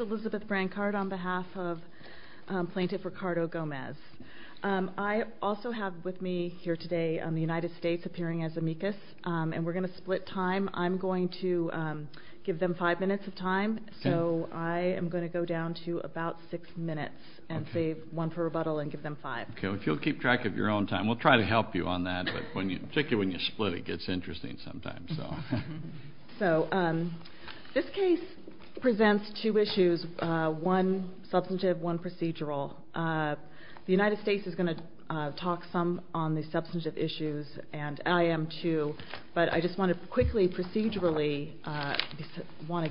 Elizabeth Brancard on behalf of Plaintiff Ricardo Gomez. I also have with me here today the United States appearing as amicus, and we're going to split time. I'm going to give them five minutes of time, so I am going to go down to about six minutes and save one for rebuttal and give them five. If you'll keep track of your own time, we'll try to help you on that, particularly when you split it gets interesting sometimes. This case presents two issues, one substantive, one procedural. The United States is going to talk some on the substantive issues, and I am too, but I just want to quickly procedurally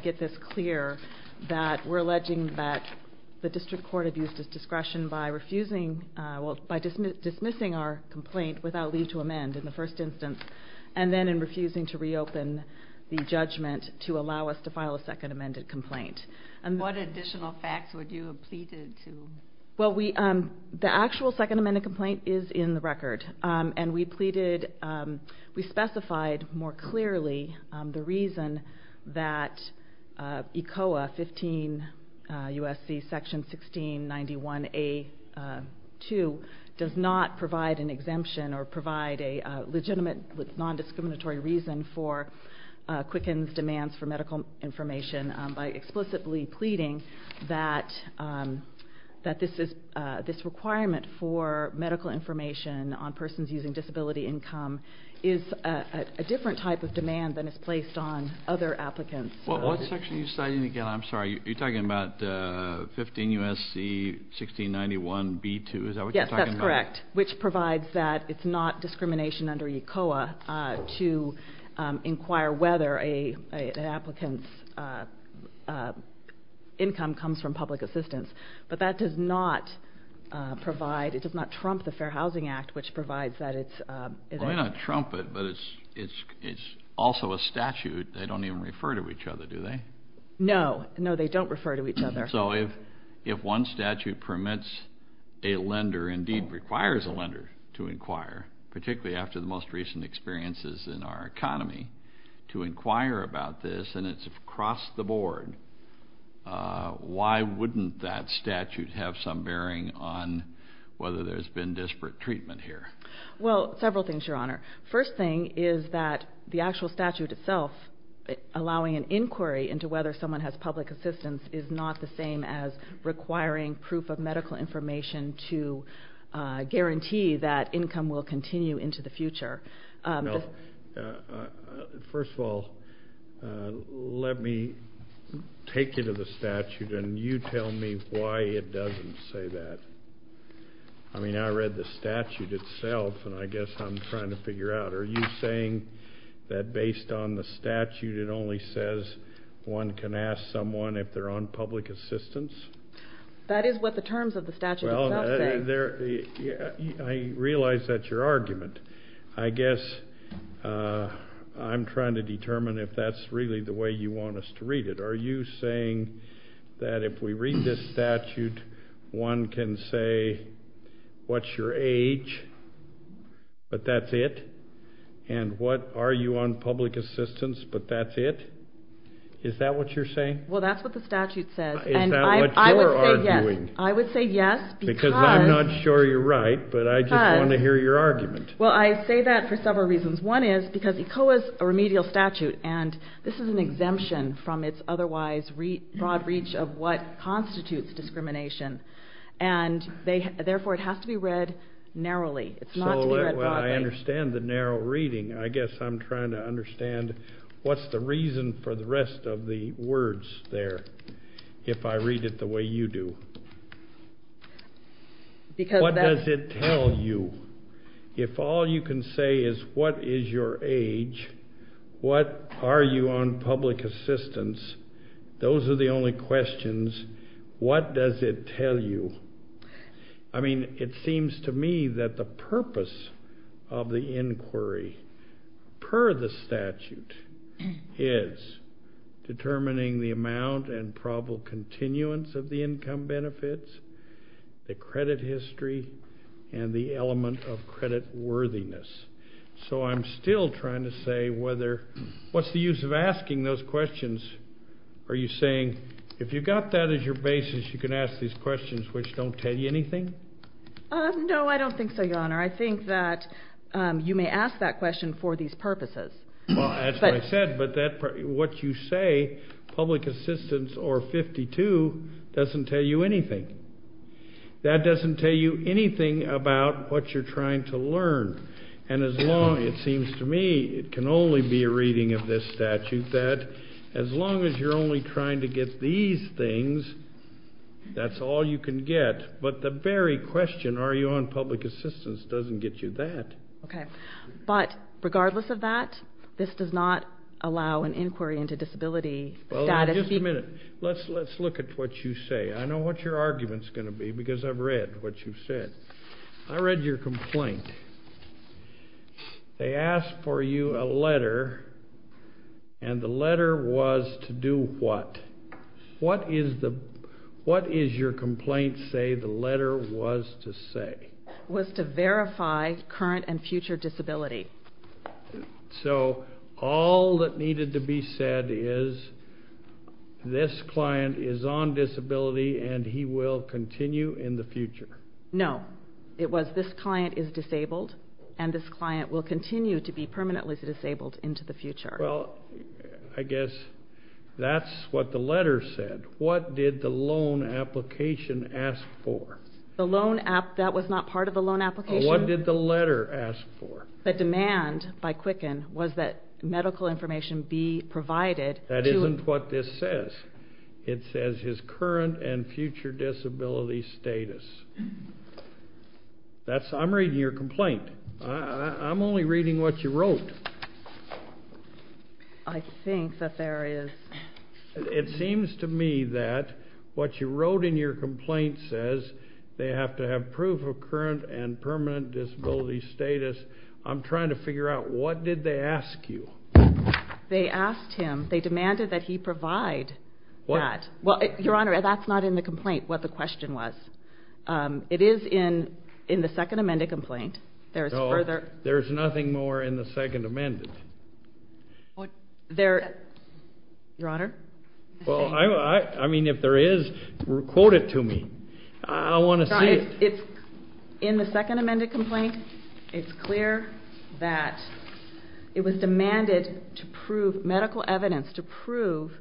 get this clear that we're alleging that the District Court abused its discretion by dismissing our complaint without leave to amend in the first instance, and then in refusing to reopen the judgment to allow us to file a second amended complaint. What additional facts would you have pleaded to? The actual second amended complaint is in the record, and we specified more clearly the reason that ECOA 15 U.S.C. section 1691A.2 does not provide an exemption or provide a legitimate non-discriminatory reason for Quicken's demands for medical information by explicitly pleading that this requirement for medical information on persons using disability income is a different type of demand than is placed on other applicants. What section are you citing again? I'm sorry, you're talking about 15 U.S.C. 1691B.2, is that what you're talking about? Correct, which provides that it's not discrimination under ECOA to inquire whether an applicant's income comes from public assistance, but that does not provide, it does not trump the Fair Housing Act, which provides that it's... Well, they don't trump it, but it's also a statute. They don't even refer to each other, do they? No, no, they don't refer to each other. So if one statute permits a lender, indeed requires a lender to inquire, particularly after the most recent experiences in our economy, to inquire about this, and it's across the board, why wouldn't that statute have some bearing on whether there's been disparate treatment here? Well, several things, Your Honor. First thing is that the actual statute itself, allowing an inquiry into whether someone has public assistance is not the same as requiring proof of medical information to guarantee that income will continue into the future. First of all, let me take you to the statute, and you tell me why it doesn't say that. I mean, I read the statute itself, and I guess I'm trying to figure out, are you saying that based on the statute, it only says one can ask someone if they're on public assistance? That is what the terms of the statute itself say. I realize that's your argument. I guess I'm trying to determine if that's really the way you want us to read it. Are you saying that if we read this statute, one can say what's your age, but that's it, and what are you on public assistance, but that's it? Is that what you're saying? Well, that's what the statute says. Is that what you're arguing? I would say yes, because... Because I'm not sure you're right, but I just want to hear your argument. Well, I say that for several reasons. One is because ECOA is a remedial statute, and this is an exemption from its otherwise broad reach of what constitutes discrimination, and therefore it has to be read narrowly. So I understand the narrow reading. I guess I'm trying to understand what's the reason for the rest of the words there, if I read it the way you do. What does it tell you? If all you can say is what is your age, what are you on public assistance, those are the only questions. What does it tell you? I mean, it seems to me that the purpose of the inquiry per the statute is determining the amount and probable continuance of the income benefits, the credit history, and the element of credit worthiness. So I'm still trying to say what's the use of asking those questions? Are you saying if you've got that as your basis, you can ask these questions which don't tell you anything? No, I don't think so, Your Honor. I think that you may ask that question for these purposes. Well, that's what I said, but what you say, public assistance or 52, doesn't tell you anything. That doesn't tell you anything about what you're trying to learn. And it seems to me it can only be a reading of this statute that as long as you're only trying to get these things, that's all you can get. But the very question, are you on public assistance, doesn't get you that. Okay, but regardless of that, this does not allow an inquiry into disability status. Well, just a minute. Let's look at what you say. I know what your argument's going to be because I've read what you've said. I read your complaint. They asked for you a letter, and the letter was to do what? What is your complaint say the letter was to say? It was to verify current and future disability. So all that needed to be said is this client is on disability and he will continue in the future? No. It was this client is disabled and this client will continue to be permanently disabled into the future. Well, I guess that's what the letter said. What did the loan application ask for? The loan, that was not part of the loan application. What did the letter ask for? The demand by Quicken was that medical information be provided. That isn't what this says. It says his current and future disability status. I'm reading your complaint. I'm only reading what you wrote. I think that there is. It seems to me that what you wrote in your complaint says they have to have proof of current and permanent disability status. I'm trying to figure out what did they ask you? They asked him. They demanded that he provide that. Your Honor, that's not in the complaint what the question was. It is in the second amended complaint. There's nothing more in the second amended. Your Honor? Well, I mean if there is, quote it to me. I want to see it. It's in the second amended complaint. It's clear that it was demanded to prove medical evidence to prove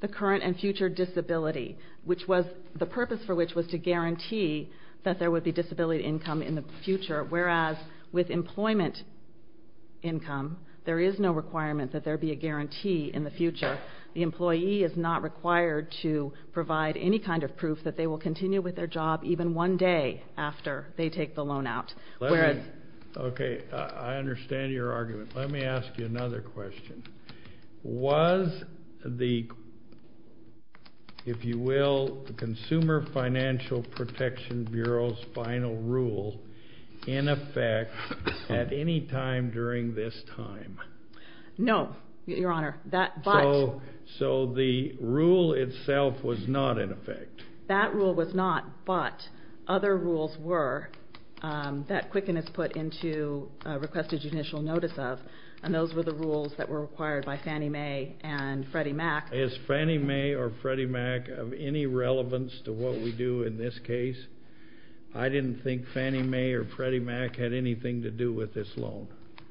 the current and future disability, which was the purpose for which was to guarantee that there would be disability income in the future, whereas with employment income there is no requirement that there be a guarantee in the future. The employee is not required to provide any kind of proof that they will continue with their job even one day after they take the loan out. Okay, I understand your argument. Let me ask you another question. Was the, if you will, Consumer Financial Protection Bureau's final rule in effect at any time during this time? No, Your Honor. So the rule itself was not in effect? That rule was not, but other rules were that Quicken has put into requested judicial notice of, and those were the rules that were required by Fannie Mae and Freddie Mac. Is Fannie Mae or Freddie Mac of any relevance to what we do in this case? I didn't think Fannie Mae or Freddie Mac had anything to do with this loan.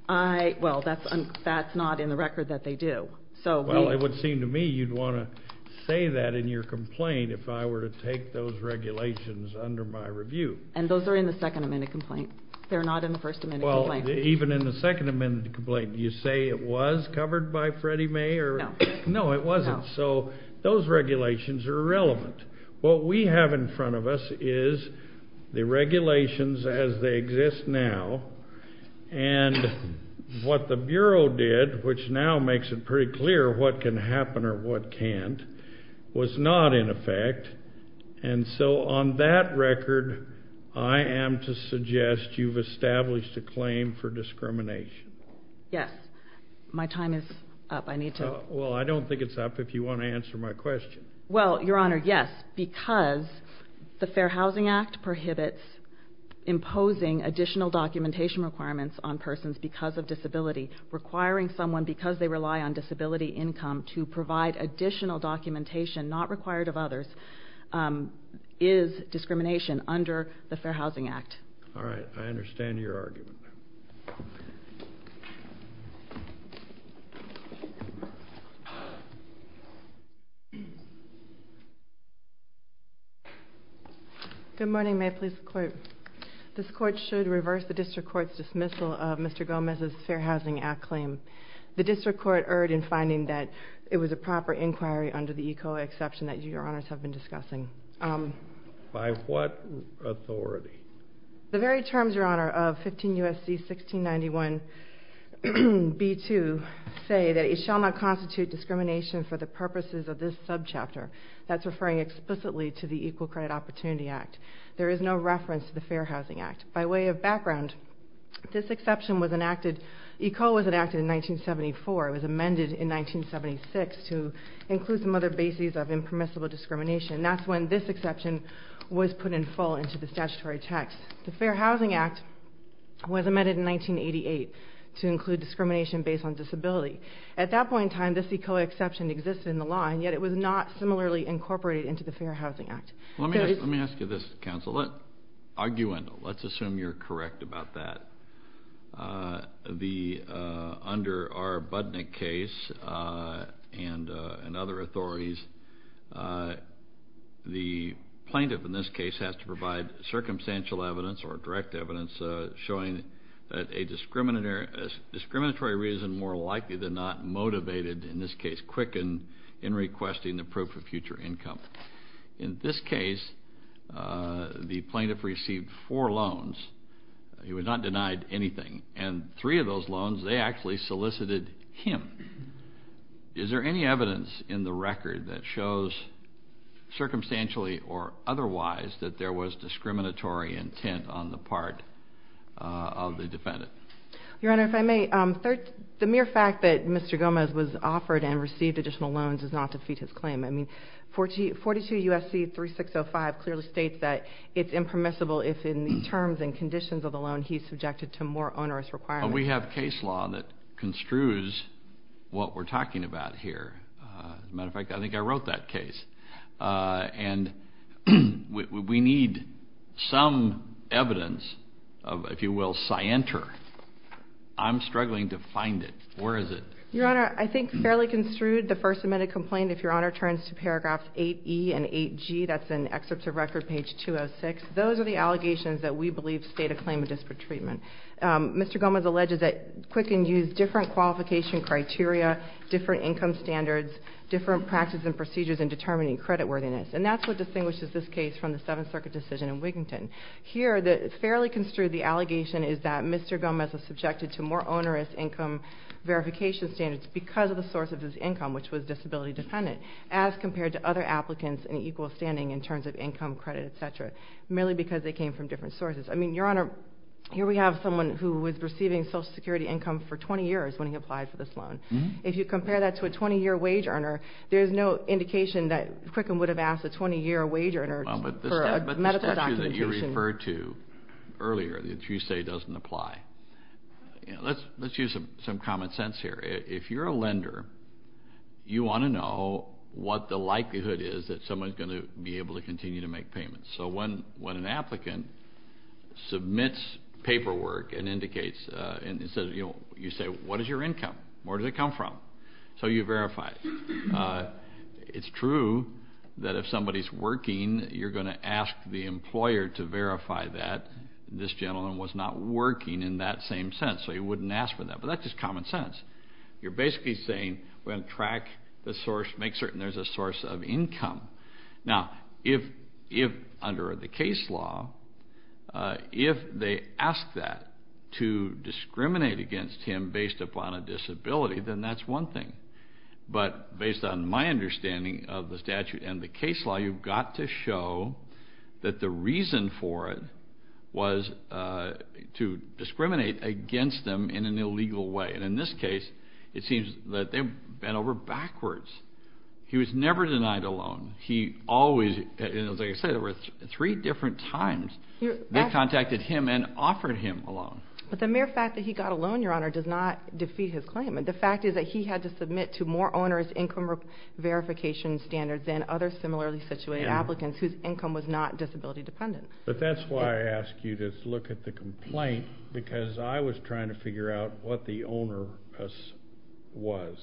Well, that's not in the record that they do. Well, it would seem to me you'd want to say that in your complaint if I were to take those regulations under my review. And those are in the Second Amendment complaint. They're not in the First Amendment complaint. Well, even in the Second Amendment complaint, do you say it was covered by Freddie Mae? No. No, it wasn't. So those regulations are irrelevant. What we have in front of us is the regulations as they exist now, and what the Bureau did, which now makes it pretty clear what can happen or what can't, was not in effect. And so on that record, I am to suggest you've established a claim for discrimination. Yes. My time is up. I need to. Well, I don't think it's up if you want to answer my question. Well, Your Honor, yes, because the Fair Housing Act prohibits imposing additional documentation requirements on persons because of disability. Requiring someone, because they rely on disability income, to provide additional documentation not required of others is discrimination under the Fair Housing Act. All right. I understand your argument. Good morning. May I please quote? This Court should reverse the District Court's dismissal of Mr. Gomez's Fair Housing Act claim. The District Court erred in finding that it was a proper inquiry under the ECOA exception that you, Your Honors, have been discussing. By what authority? The very terms, Your Honor, of 15 U.S.C. 1691b2 say that it shall not constitute discrimination for the purposes of this subchapter. That's referring explicitly to the Equal Credit Opportunity Act. There is no reference to the Fair Housing Act. By way of background, this exception was enacted, ECOA was enacted in 1974. It was amended in 1976 to include some other bases of impermissible discrimination. And that's when this exception was put in full into the statutory text. The Fair Housing Act was amended in 1988 to include discrimination based on disability. At that point in time, this ECOA exception existed in the law, and yet it was not similarly incorporated into the Fair Housing Act. Let me ask you this, Counsel. Let's argue and let's assume you're correct about that. Under our Budnick case and other authorities, the plaintiff in this case has to provide circumstantial evidence or direct evidence showing that a discriminatory reason more likely than not motivated, in this case, Quicken in requesting the proof of future income. In this case, the plaintiff received four loans. He was not denied anything. And three of those loans, they actually solicited him. Is there any evidence in the record that shows, circumstantially or otherwise, that there was discriminatory intent on the part of the defendant? Your Honor, if I may, the mere fact that Mr. Gomez was offered and received additional loans does not defeat his claim. I mean, 42 U.S.C. 3605 clearly states that it's impermissible if, in the terms and conditions of the loan, he's subjected to more onerous requirements. But we have case law that construes what we're talking about here. As a matter of fact, I think I wrote that case. And we need some evidence of, if you will, scienter. I'm struggling to find it. Where is it? Your Honor, I think fairly construed, the First Amendment complaint, if Your Honor turns to paragraphs 8E and 8G, that's in excerpts of record page 206, those are the allegations that we believe state a claim of disparate treatment. Mr. Gomez alleges that Quicken used different qualification criteria, different income standards, different practices and procedures in determining creditworthiness. And that's what distinguishes this case from the Seventh Circuit decision in Wiginton. Here, fairly construed, the allegation is that Mr. Gomez was subjected to more onerous income verification standards because of the source of his income, which was disability dependent, as compared to other applicants in equal standing in terms of income, credit, et cetera, merely because they came from different sources. I mean, Your Honor, here we have someone who was receiving Social Security income for 20 years when he applied for this loan. If you compare that to a 20-year wage earner, there's no indication that Quicken would have asked a 20-year wage earner for a medical documentation. But the structure that you referred to earlier, that you say doesn't apply, let's use some common sense here. If you're a lender, you want to know what the likelihood is that someone's going to be able to continue to make payments. So when an applicant submits paperwork and indicates, you say, what is your income, where does it come from? So you verify it. It's true that if somebody's working, you're going to ask the employer to verify that this gentleman was not working in that same sense. So you wouldn't ask for that. But that's just common sense. You're basically saying we're going to track the source, make certain there's a source of income. Now, if under the case law, if they ask that to discriminate against him based upon a disability, then that's one thing. But based on my understanding of the statute and the case law, you've got to show that the reason for it was to discriminate against him in an illegal way. And in this case, it seems that they've bent over backwards. He was never denied a loan. As I said, there were three different times they contacted him and offered him a loan. But the mere fact that he got a loan, Your Honor, does not defeat his claim. The fact is that he had to submit to more owner's income verification standards than other similarly situated applicants whose income was not disability dependent. But that's why I asked you to look at the complaint, because I was trying to figure out what the owner was.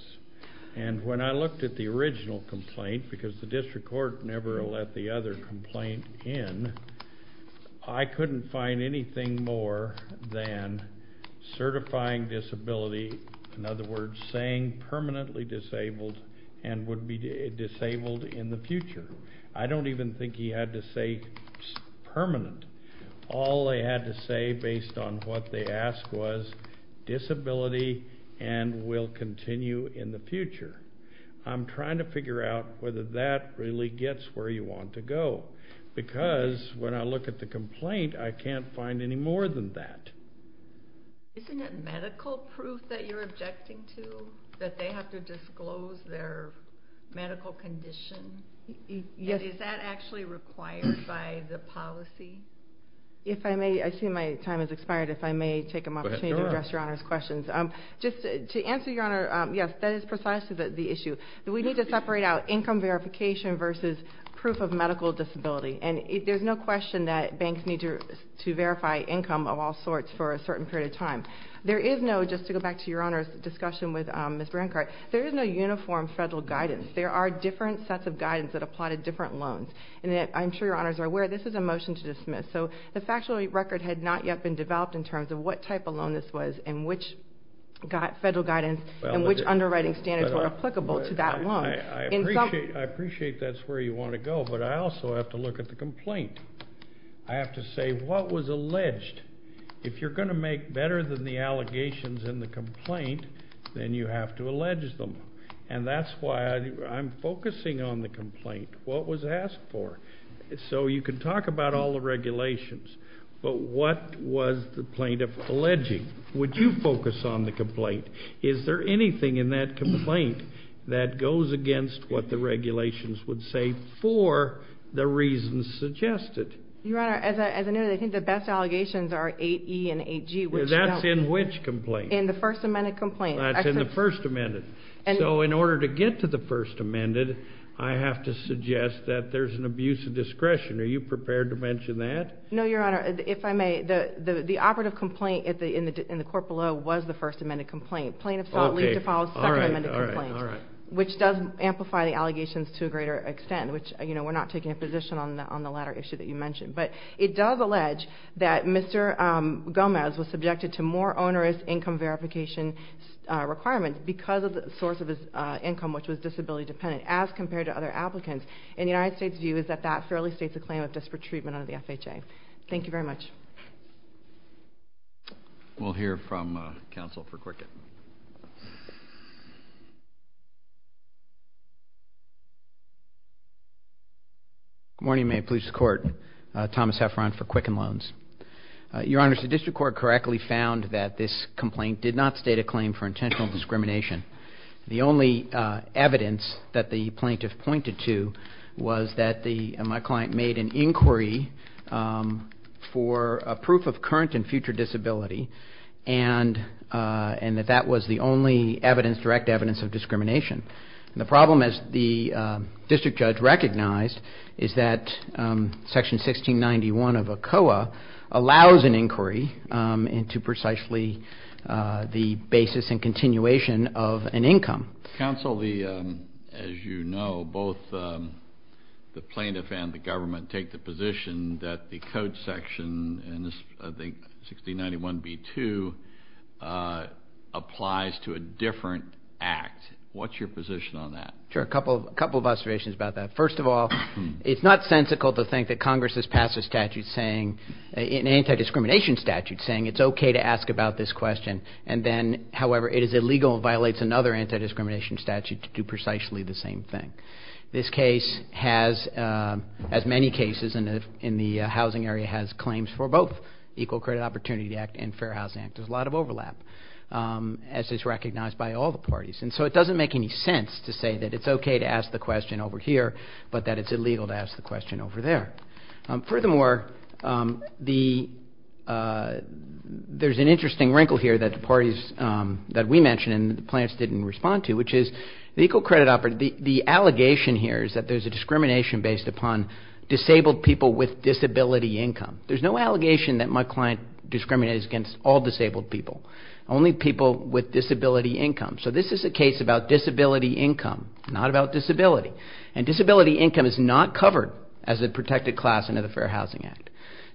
And when I looked at the original complaint, because the district court never let the other complaint in, I couldn't find anything more than certifying disability, in other words, saying permanently disabled and would be disabled in the future. I don't even think he had to say permanent. All they had to say, based on what they asked, was disability and will continue in the future. I'm trying to figure out whether that really gets where you want to go. Because when I look at the complaint, I can't find any more than that. Isn't it medical proof that you're objecting to, that they have to disclose their medical condition? Is that actually required by the policy? I see my time has expired. If I may take an opportunity to address Your Honor's questions. To answer Your Honor, yes, that is precisely the issue. We need to separate out income verification versus proof of medical disability. There's no question that banks need to verify income of all sorts for a certain period of time. Just to go back to Your Honor's discussion with Ms. Brancard, there is no uniform federal guidance. There are different sets of guidance that apply to different loans. I'm sure Your Honors are aware this is a motion to dismiss. The factually record had not yet been developed in terms of what type of loan this was and which federal guidance and which underwriting standards were applicable to that loan. I appreciate that's where you want to go, but I also have to look at the complaint. I have to say what was alleged. If you're going to make better than the allegations in the complaint, then you have to allege them. That's why I'm focusing on the complaint, what was asked for. You can talk about all the regulations, but what was the plaintiff alleging? Would you focus on the complaint? Is there anything in that complaint that goes against what the regulations would say for the reasons suggested? Your Honor, as I noted, I think the best allegations are 8E and 8G. That's in which complaint? In the First Amendment complaint. That's in the First Amendment. So in order to get to the First Amendment, I have to suggest that there's an abuse of discretion. Are you prepared to mention that? No, Your Honor. If I may, the operative complaint in the court below was the First Amendment complaint. Plaintiff sought leave to file a Second Amendment complaint, which does amplify the allegations to a greater extent, which we're not taking a position on the latter issue that you mentioned. But it does allege that Mr. Gomez was subjected to more onerous income verification requirements because of the source of his income, which was disability-dependent, as compared to other applicants. And the United States' view is that that fairly states a claim of disparate treatment under the FHA. Thank you very much. We'll hear from counsel for Cricket. Good morning. May it please the Court. Thomas Heffron for Quicken Loans. Your Honor, the district court correctly found that this complaint did not state a claim for intentional discrimination. The only evidence that the plaintiff pointed to was that my client made an inquiry for a proof of current and future disability and that that was the only direct evidence of discrimination. And the problem, as the district judge recognized, is that Section 1691 of ACOA allows an inquiry into precisely the basis and continuation of an income. Counsel, as you know, both the plaintiff and the government take the position that the code section in this, I think, 1691b2 applies to a different act. What's your position on that? Sure, a couple of observations about that. First of all, it's not sensical to think that Congress has passed a statute saying, an anti-discrimination statute saying it's okay to ask about this question, and then, however, it is illegal and violates another anti-discrimination statute to do precisely the same thing. This case has, as many cases in the housing area, has claims for both Equal Credit Opportunity Act and Fair Housing Act. There's a lot of overlap, as is recognized by all the parties. And so it doesn't make any sense to say that it's okay to ask the question over here, but that it's illegal to ask the question over there. Furthermore, there's an interesting wrinkle here that the parties that we mentioned and the plaintiffs didn't respond to, which is the Equal Credit Opportunity Act, the allegation here is that there's a discrimination based upon disabled people with disability income. There's no allegation that my client discriminates against all disabled people, only people with disability income. So this is a case about disability income, not about disability. And disability income is not covered as a protected class under the Fair Housing Act.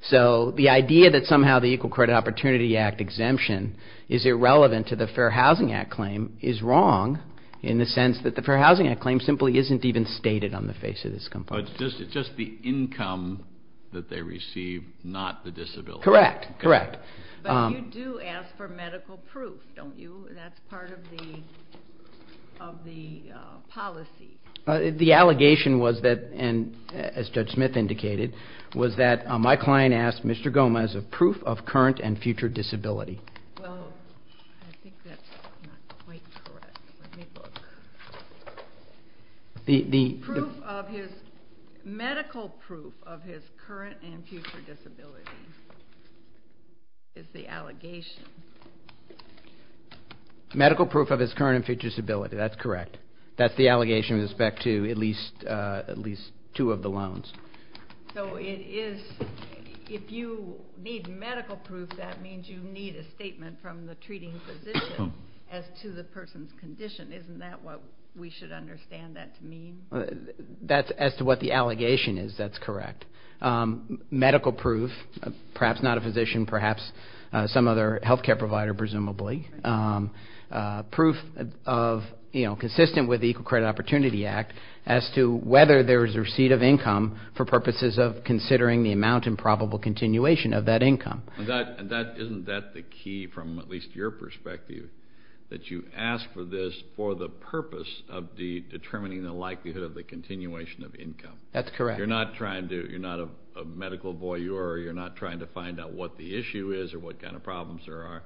So the idea that somehow the Equal Credit Opportunity Act exemption is irrelevant to the Fair Housing Act claim is wrong, in the sense that the Fair Housing Act claim simply isn't even stated on the face of this complaint. It's just the income that they receive, not the disability. Correct, correct. But you do ask for medical proof, don't you? That's part of the policy. The allegation was that, and as Judge Smith indicated, was that my client asked Mr. Goma as a proof of current and future disability. Well, I think that's not quite correct. The proof of his medical proof of his current and future disability is the allegation. Medical proof of his current and future disability, that's correct. That's the allegation with respect to at least two of the loans. So if you need medical proof, that means you need a statement from the treating physician as to the person's condition. Isn't that what we should understand that to mean? As to what the allegation is, that's correct. Medical proof, perhaps not a physician, perhaps some other health care provider, presumably. Proof consistent with the Equal Credit Opportunity Act as to whether there is a receipt of income for purposes of considering the amount and probable continuation of that income. Isn't that the key from at least your perspective, that you ask for this for the purpose of determining the likelihood of the continuation of income? That's correct. You're not a medical voyeur. You're not trying to find out what the issue is or what kind of problems there are.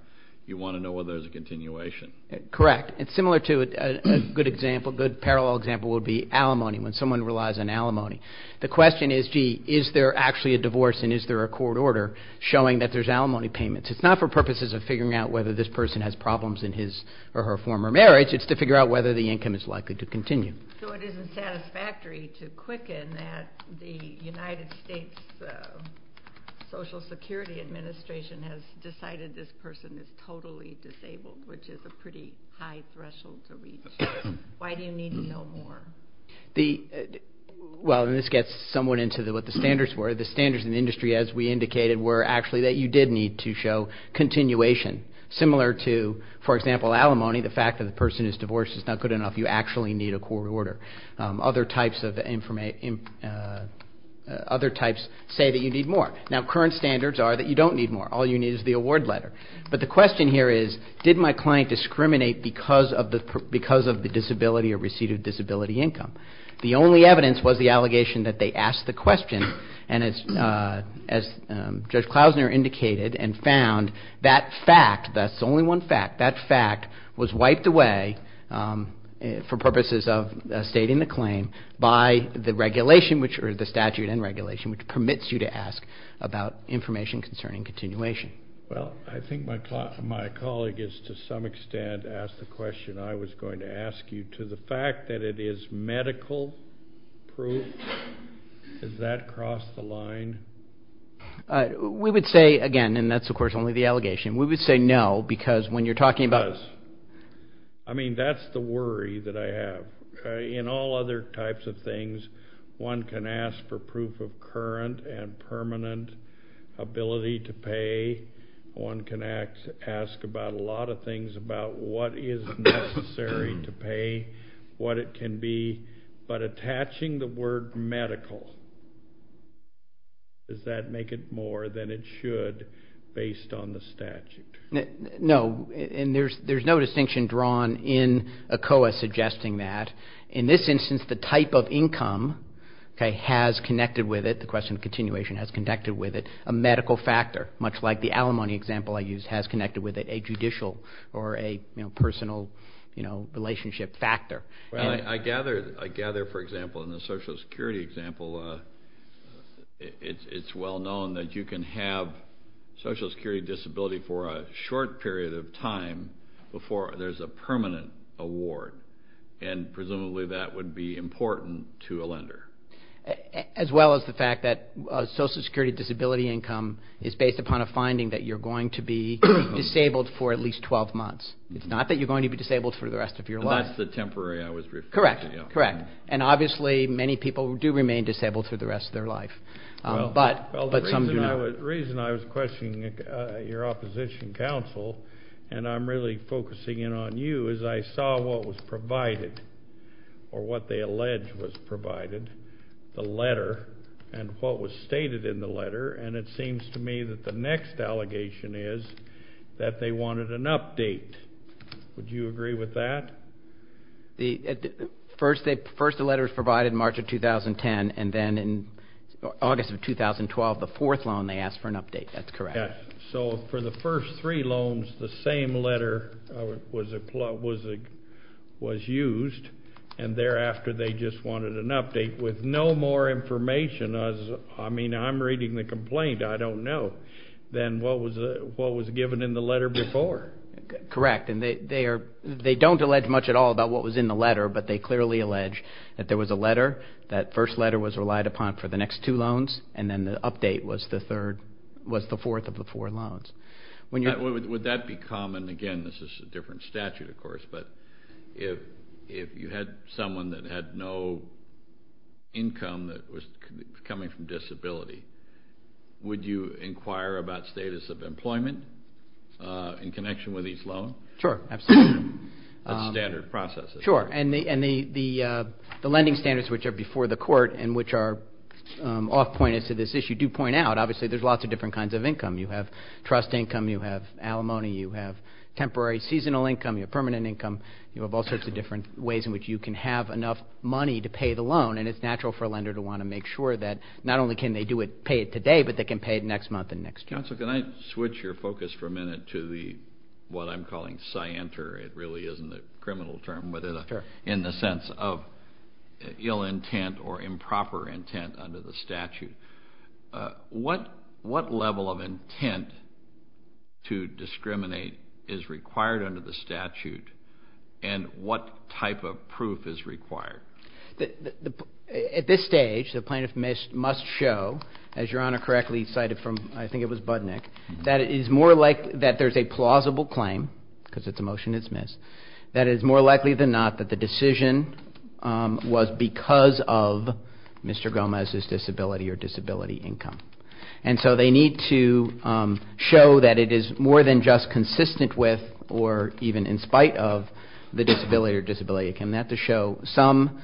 You want to know whether there's a continuation. Correct. And similar to a good parallel example would be alimony, when someone relies on alimony. The question is, gee, is there actually a divorce and is there a court order showing that there's alimony payments? It's not for purposes of figuring out whether this person has problems in his or her former marriage. It's to figure out whether the income is likely to continue. So it isn't satisfactory to quicken that the United States Social Security Administration has decided this person is totally disabled, which is a pretty high threshold to reach. Why do you need to know more? Well, this gets somewhat into what the standards were. The standards in the industry, as we indicated, were actually that you did need to show continuation. Similar to, for example, alimony, the fact that the person is divorced is not good enough. You actually need a court order. Other types say that you need more. Now, current standards are that you don't need more. All you need is the award letter. But the question here is, did my client discriminate because of the disability or receipt of disability income? The only evidence was the allegation that they asked the question. And as Judge Klausner indicated and found, that fact, that's the only one fact, that fact was wiped away for purposes of stating the claim by the regulation, or the statute and regulation, which permits you to ask about information concerning continuation. Well, I think my colleague has, to some extent, asked the question I was going to ask you. To the fact that it is medical proof, does that cross the line? We would say, again, and that's, of course, only the allegation. We would say no, because when you're talking about It does. I mean, that's the worry that I have. In all other types of things, one can ask for proof of current and permanent ability to pay. One can ask about a lot of things about what is necessary to pay, what it can be. But attaching the word medical, does that make it more than it should based on the statute? No, and there's no distinction drawn in ACOA suggesting that. In this instance, the type of income has connected with it, the question of continuation has connected with it, a medical factor, much like the alimony example I used has connected with it, a judicial or a personal relationship factor. I gather, for example, in the Social Security example, it's well known that you can have Social Security disability for a short period of time before there's a permanent award, and presumably that would be important to a lender. As well as the fact that Social Security disability income is based upon a finding that you're going to be disabled for at least 12 months. It's not that you're going to be disabled for the rest of your life. That's the temporary, I was referring to. Correct, and obviously many people do remain disabled for the rest of their life. The reason I was questioning your opposition counsel, and I'm really focusing in on you, is I saw what was provided, or what they allege was provided, the letter, and what was stated in the letter, and it seems to me that the next allegation is that they wanted an update. Would you agree with that? First the letter was provided in March of 2010, and then in August of 2012, the fourth loan, they asked for an update. That's correct. So for the first three loans, the same letter was used, and thereafter they just wanted an update, with no more information as, I mean, I'm reading the complaint, I don't know, than what was given in the letter before. Correct, and they don't allege much at all about what was in the letter, but they clearly allege that there was a letter, that first letter was relied upon for the next two loans, and then the update was the fourth of the four loans. Would that be common? Again, this is a different statute, of course, but if you had someone that had no income that was coming from disability, would you inquire about status of employment in connection with each loan? Sure, absolutely. That's standard process. Sure, and the lending standards, which are before the court and which are off-pointed to this issue, do point out obviously there's lots of different kinds of income. You have trust income, you have alimony, you have temporary seasonal income, you have permanent income, you have all sorts of different ways in which you can have enough money to pay the loan, and it's natural for a lender to want to make sure that not only can they pay it today, but they can pay it next month and next year. Counsel, can I switch your focus for a minute to what I'm calling scienter? It really isn't a criminal term, but in the sense of ill intent or improper intent under the statute. What level of intent to discriminate is required under the statute, and what type of proof is required? At this stage, the plaintiff must show, as Your Honor correctly cited from, I think it was Budnick, that it is more likely that there's a plausible claim, because it's a motion to dismiss, that it is more likely than not that the decision was because of Mr. Gomez's disability or disability income. And so they need to show that it is more than just consistent with or even in spite of the disability or disability. They have to show some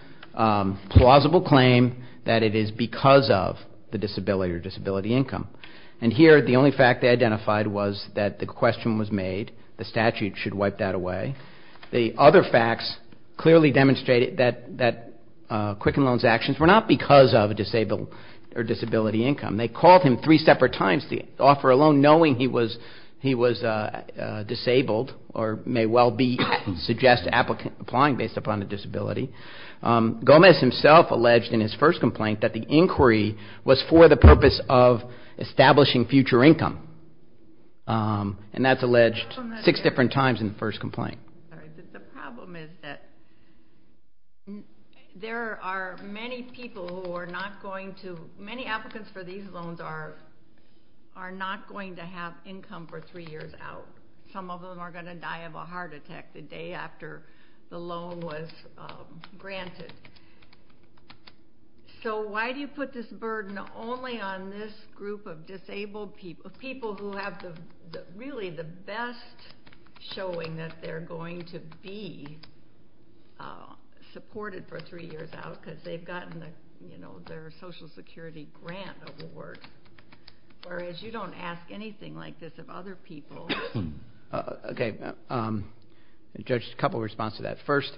plausible claim that it is because of the disability or disability income. And here, the only fact they identified was that the question was made. The statute should wipe that away. The other facts clearly demonstrate that Quicken Loan's actions were not because of disability income. They called him three separate times to offer a loan knowing he was disabled or may well suggest applying based upon a disability. Gomez himself alleged in his first complaint that the inquiry was for the purpose of establishing future income. And that's alleged six different times in the first complaint. The problem is that there are many people who are not going to, many applicants for these loans are not going to have income for three years out. Some of them are going to die of a heart attack the day after the loan was granted. So why do you put this burden only on this group of disabled people, people who have really the best showing that they're going to be supported for three years out because they've gotten their Social Security grant award. Whereas you don't ask anything like this of other people. Okay, Judge, a couple of responses to that. First,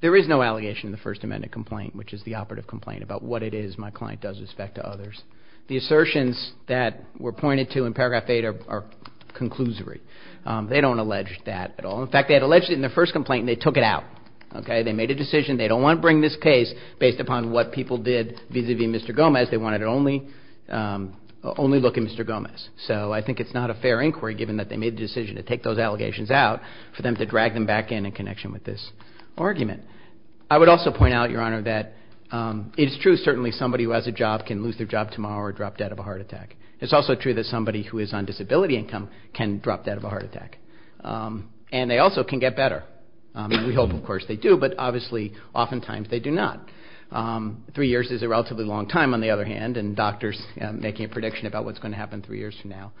there is no allegation in the First Amendment complaint, which is the operative complaint about what it is my client does with respect to others. The assertions that were pointed to in paragraph eight are conclusory. They don't allege that at all. In fact, they had alleged it in their first complaint and they took it out. They made a decision. They don't want to bring this case based upon what people did vis-à-vis Mr. Gomez. They realized they wanted to only look at Mr. Gomez. So I think it's not a fair inquiry, given that they made the decision to take those allegations out, for them to drag them back in in connection with this argument. I would also point out, Your Honor, that it is true, certainly, somebody who has a job can lose their job tomorrow or drop dead of a heart attack. It's also true that somebody who is on disability income can drop dead of a heart attack. And they also can get better. We hope, of course, they do. But obviously, oftentimes, they do not. Three years is a relatively long time, on the other hand, and doctors making a prediction about what's going to happen three years from now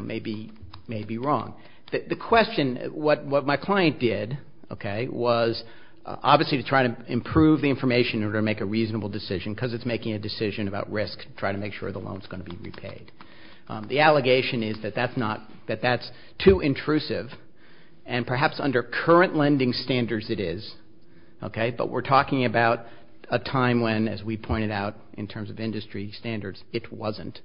may be wrong. The question, what my client did, okay, was obviously to try to improve the information in order to make a reasonable decision, because it's making a decision about risk to try to make sure the loan is going to be repaid. The allegation is that that's not, that that's too intrusive, and perhaps under current lending standards it is, okay, but we're talking about a time when, as we pointed out, in terms of industry standards, it wasn't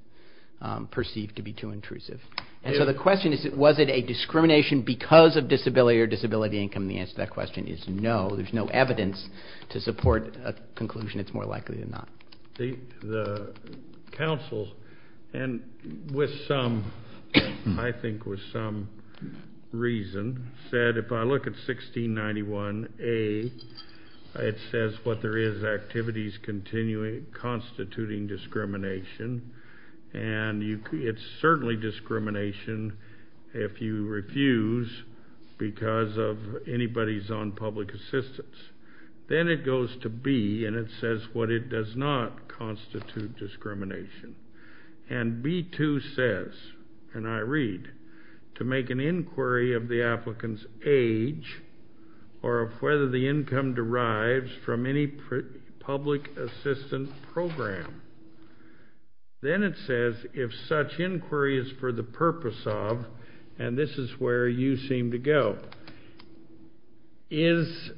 perceived to be too intrusive. And so the question is, was it a discrimination because of disability or disability income? And the answer to that question is no. There's no evidence to support a conclusion. It's more likely than not. The counsel, and with some, I think with some reason, said if I look at 1691A, it says what there is, activities constituting discrimination, and it's certainly discrimination if you refuse because of anybody's own public assistance. Then it goes to B, and it says what it does not constitute discrimination. And B2 says, and I read, to make an inquiry of the applicant's age or of whether the income derives from any public assistance program. Then it says if such inquiry is for the purpose of, and this is where you seem to go, is,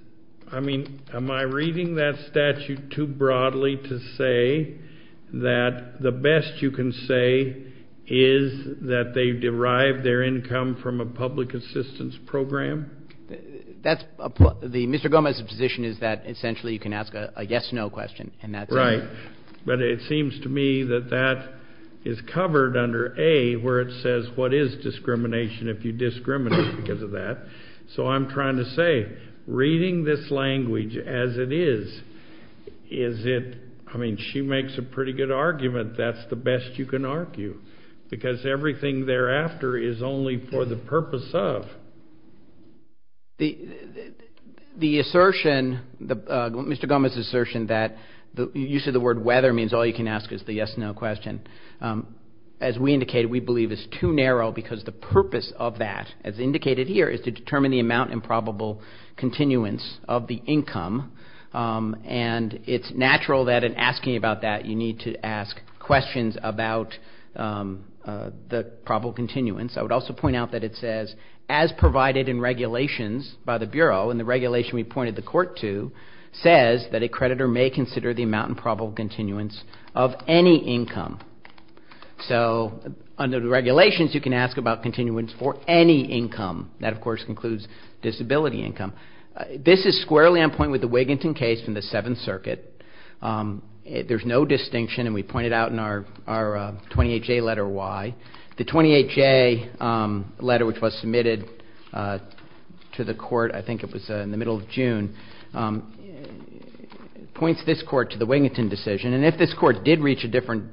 I mean, am I reading that statute too broadly to say that the best you can say is that they derive their income from a public assistance program? That's, Mr. Gomez's position is that essentially you can ask a yes-no question, and that's it. Right. But it seems to me that that is covered under A, where it says what is discrimination if you discriminate because of that. So I'm trying to say, reading this language as it is, is it, I mean, she makes a pretty good argument. That's the best you can argue, because everything thereafter is only for the purpose of. The assertion, Mr. Gomez's assertion that the use of the word whether means all you can ask is the yes-no question, as we indicated, we believe is too narrow because the purpose of that, as indicated here, is to determine the amount and probable continuance of the income. And it's natural that in asking about that, you need to ask questions about the probable continuance. I would also point out that it says, as provided in regulations by the Bureau, and the regulation we pointed the court to, says that a creditor may consider the amount and probable continuance of any income. So under the regulations, you can ask about continuance for any income. That, of course, includes disability income. This is squarely on point with the Wiginton case from the Seventh Circuit. There's no distinction, and we pointed out in our 28J letter why. The 28J letter, which was submitted to the court, I think it was in the middle of June, points this court to the Wiginton decision, and if this court did reach a different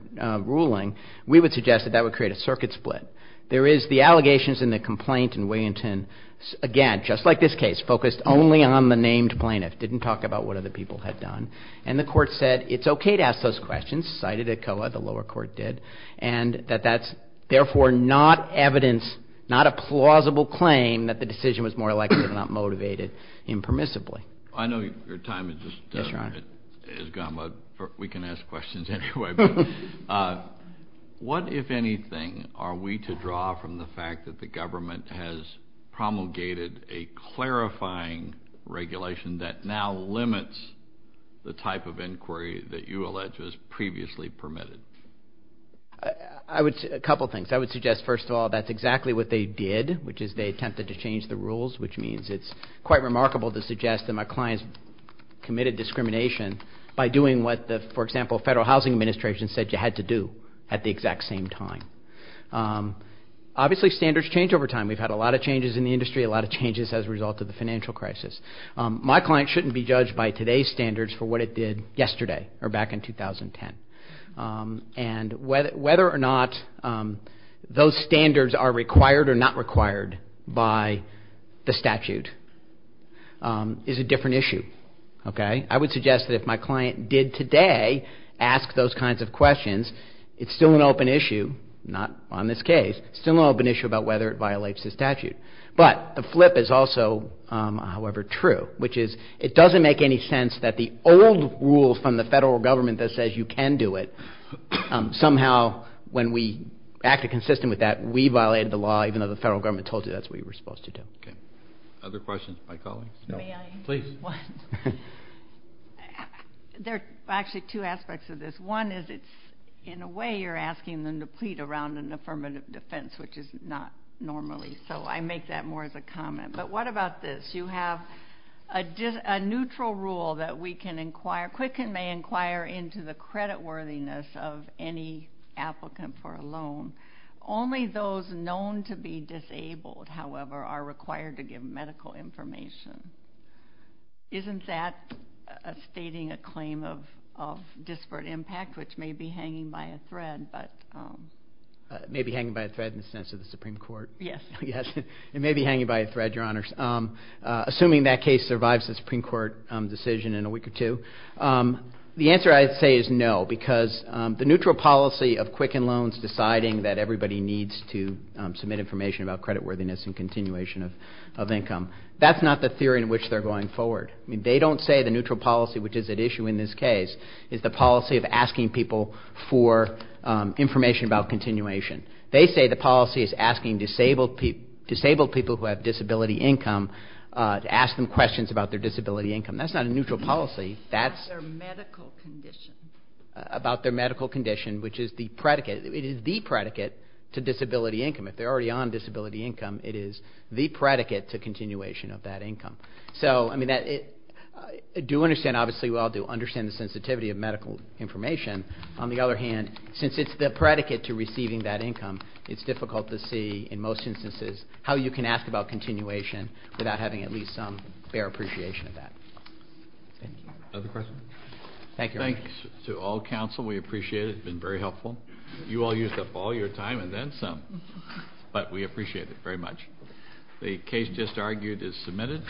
ruling, we would suggest that that would create a circuit split. There is the allegations in the complaint in Wiginton, again, just like this case, focused only on the named plaintiff, didn't talk about what other people had done. And the court said it's okay to ask those questions, cited ECOA, the lower court did, and that that's therefore not evidence, not a plausible claim that the decision was more likely than not motivated impermissibly. I know your time has just gone, but we can ask questions anyway. What, if anything, are we to draw from the fact that the government has promulgated a clarifying regulation that now limits the type of inquiry that you allege was previously permitted? A couple things. I would suggest, first of all, that's exactly what they did, which is they attempted to change the rules, which means it's quite remarkable to suggest that my clients committed discrimination by doing what, for example, the Federal Housing Administration said you had to do at the exact same time. Obviously, standards change over time. We've had a lot of changes in the industry, a lot of changes as a result of the financial crisis. My client shouldn't be judged by today's standards for what it did yesterday or back in 2010. And whether or not those standards are required or not required by the statute is a different issue, okay? I would suggest that if my client did today ask those kinds of questions, it's still an open issue, not on this case, still an open issue about whether it violates the statute. But the flip is also, however, true, which is it doesn't make any sense that the old rules from the federal government that says you can do it, somehow when we acted consistent with that, we violated the law, even though the federal government told you that's what you were supposed to do. Okay. Other questions from my colleagues? May I? Please. There are actually two aspects of this. One is it's, in a way, you're asking them to plead around an affirmative defense, which is not normally so. I make that more as a comment. But what about this? You have a neutral rule that we can inquire, quicken may inquire into the creditworthiness of any applicant for a loan. Only those known to be disabled, however, are required to give medical information. Isn't that stating a claim of disparate impact, which may be hanging by a thread? It may be hanging by a thread in the sense of the Supreme Court. Yes. Yes. It may be hanging by a thread, Your Honors. Assuming that case survives the Supreme Court decision in a week or two. The answer I'd say is no, because the neutral policy of quicken loans, deciding that everybody needs to submit information about creditworthiness and continuation of income, that's not the theory in which they're going forward. I mean, they don't say the neutral policy, which is at issue in this case, is the policy of asking people for information about continuation. They say the policy is asking disabled people who have disability income to ask them questions about their disability income. That's not a neutral policy. About their medical condition. About their medical condition, which is the predicate. It is the predicate to disability income. If they're already on disability income, it is the predicate to continuation of that income. So, I mean, I do understand, obviously we all do, understand the sensitivity of medical information. On the other hand, since it's the predicate to receiving that income, it's difficult to see, in most instances, how you can ask about continuation without having at least some fair appreciation of that. Thank you. Other questions? Thank you, Your Honors. Thanks to all counsel. We appreciate it. It's been very helpful. You all used up all your time and then some, but we appreciate it very much. The case just argued is submitted.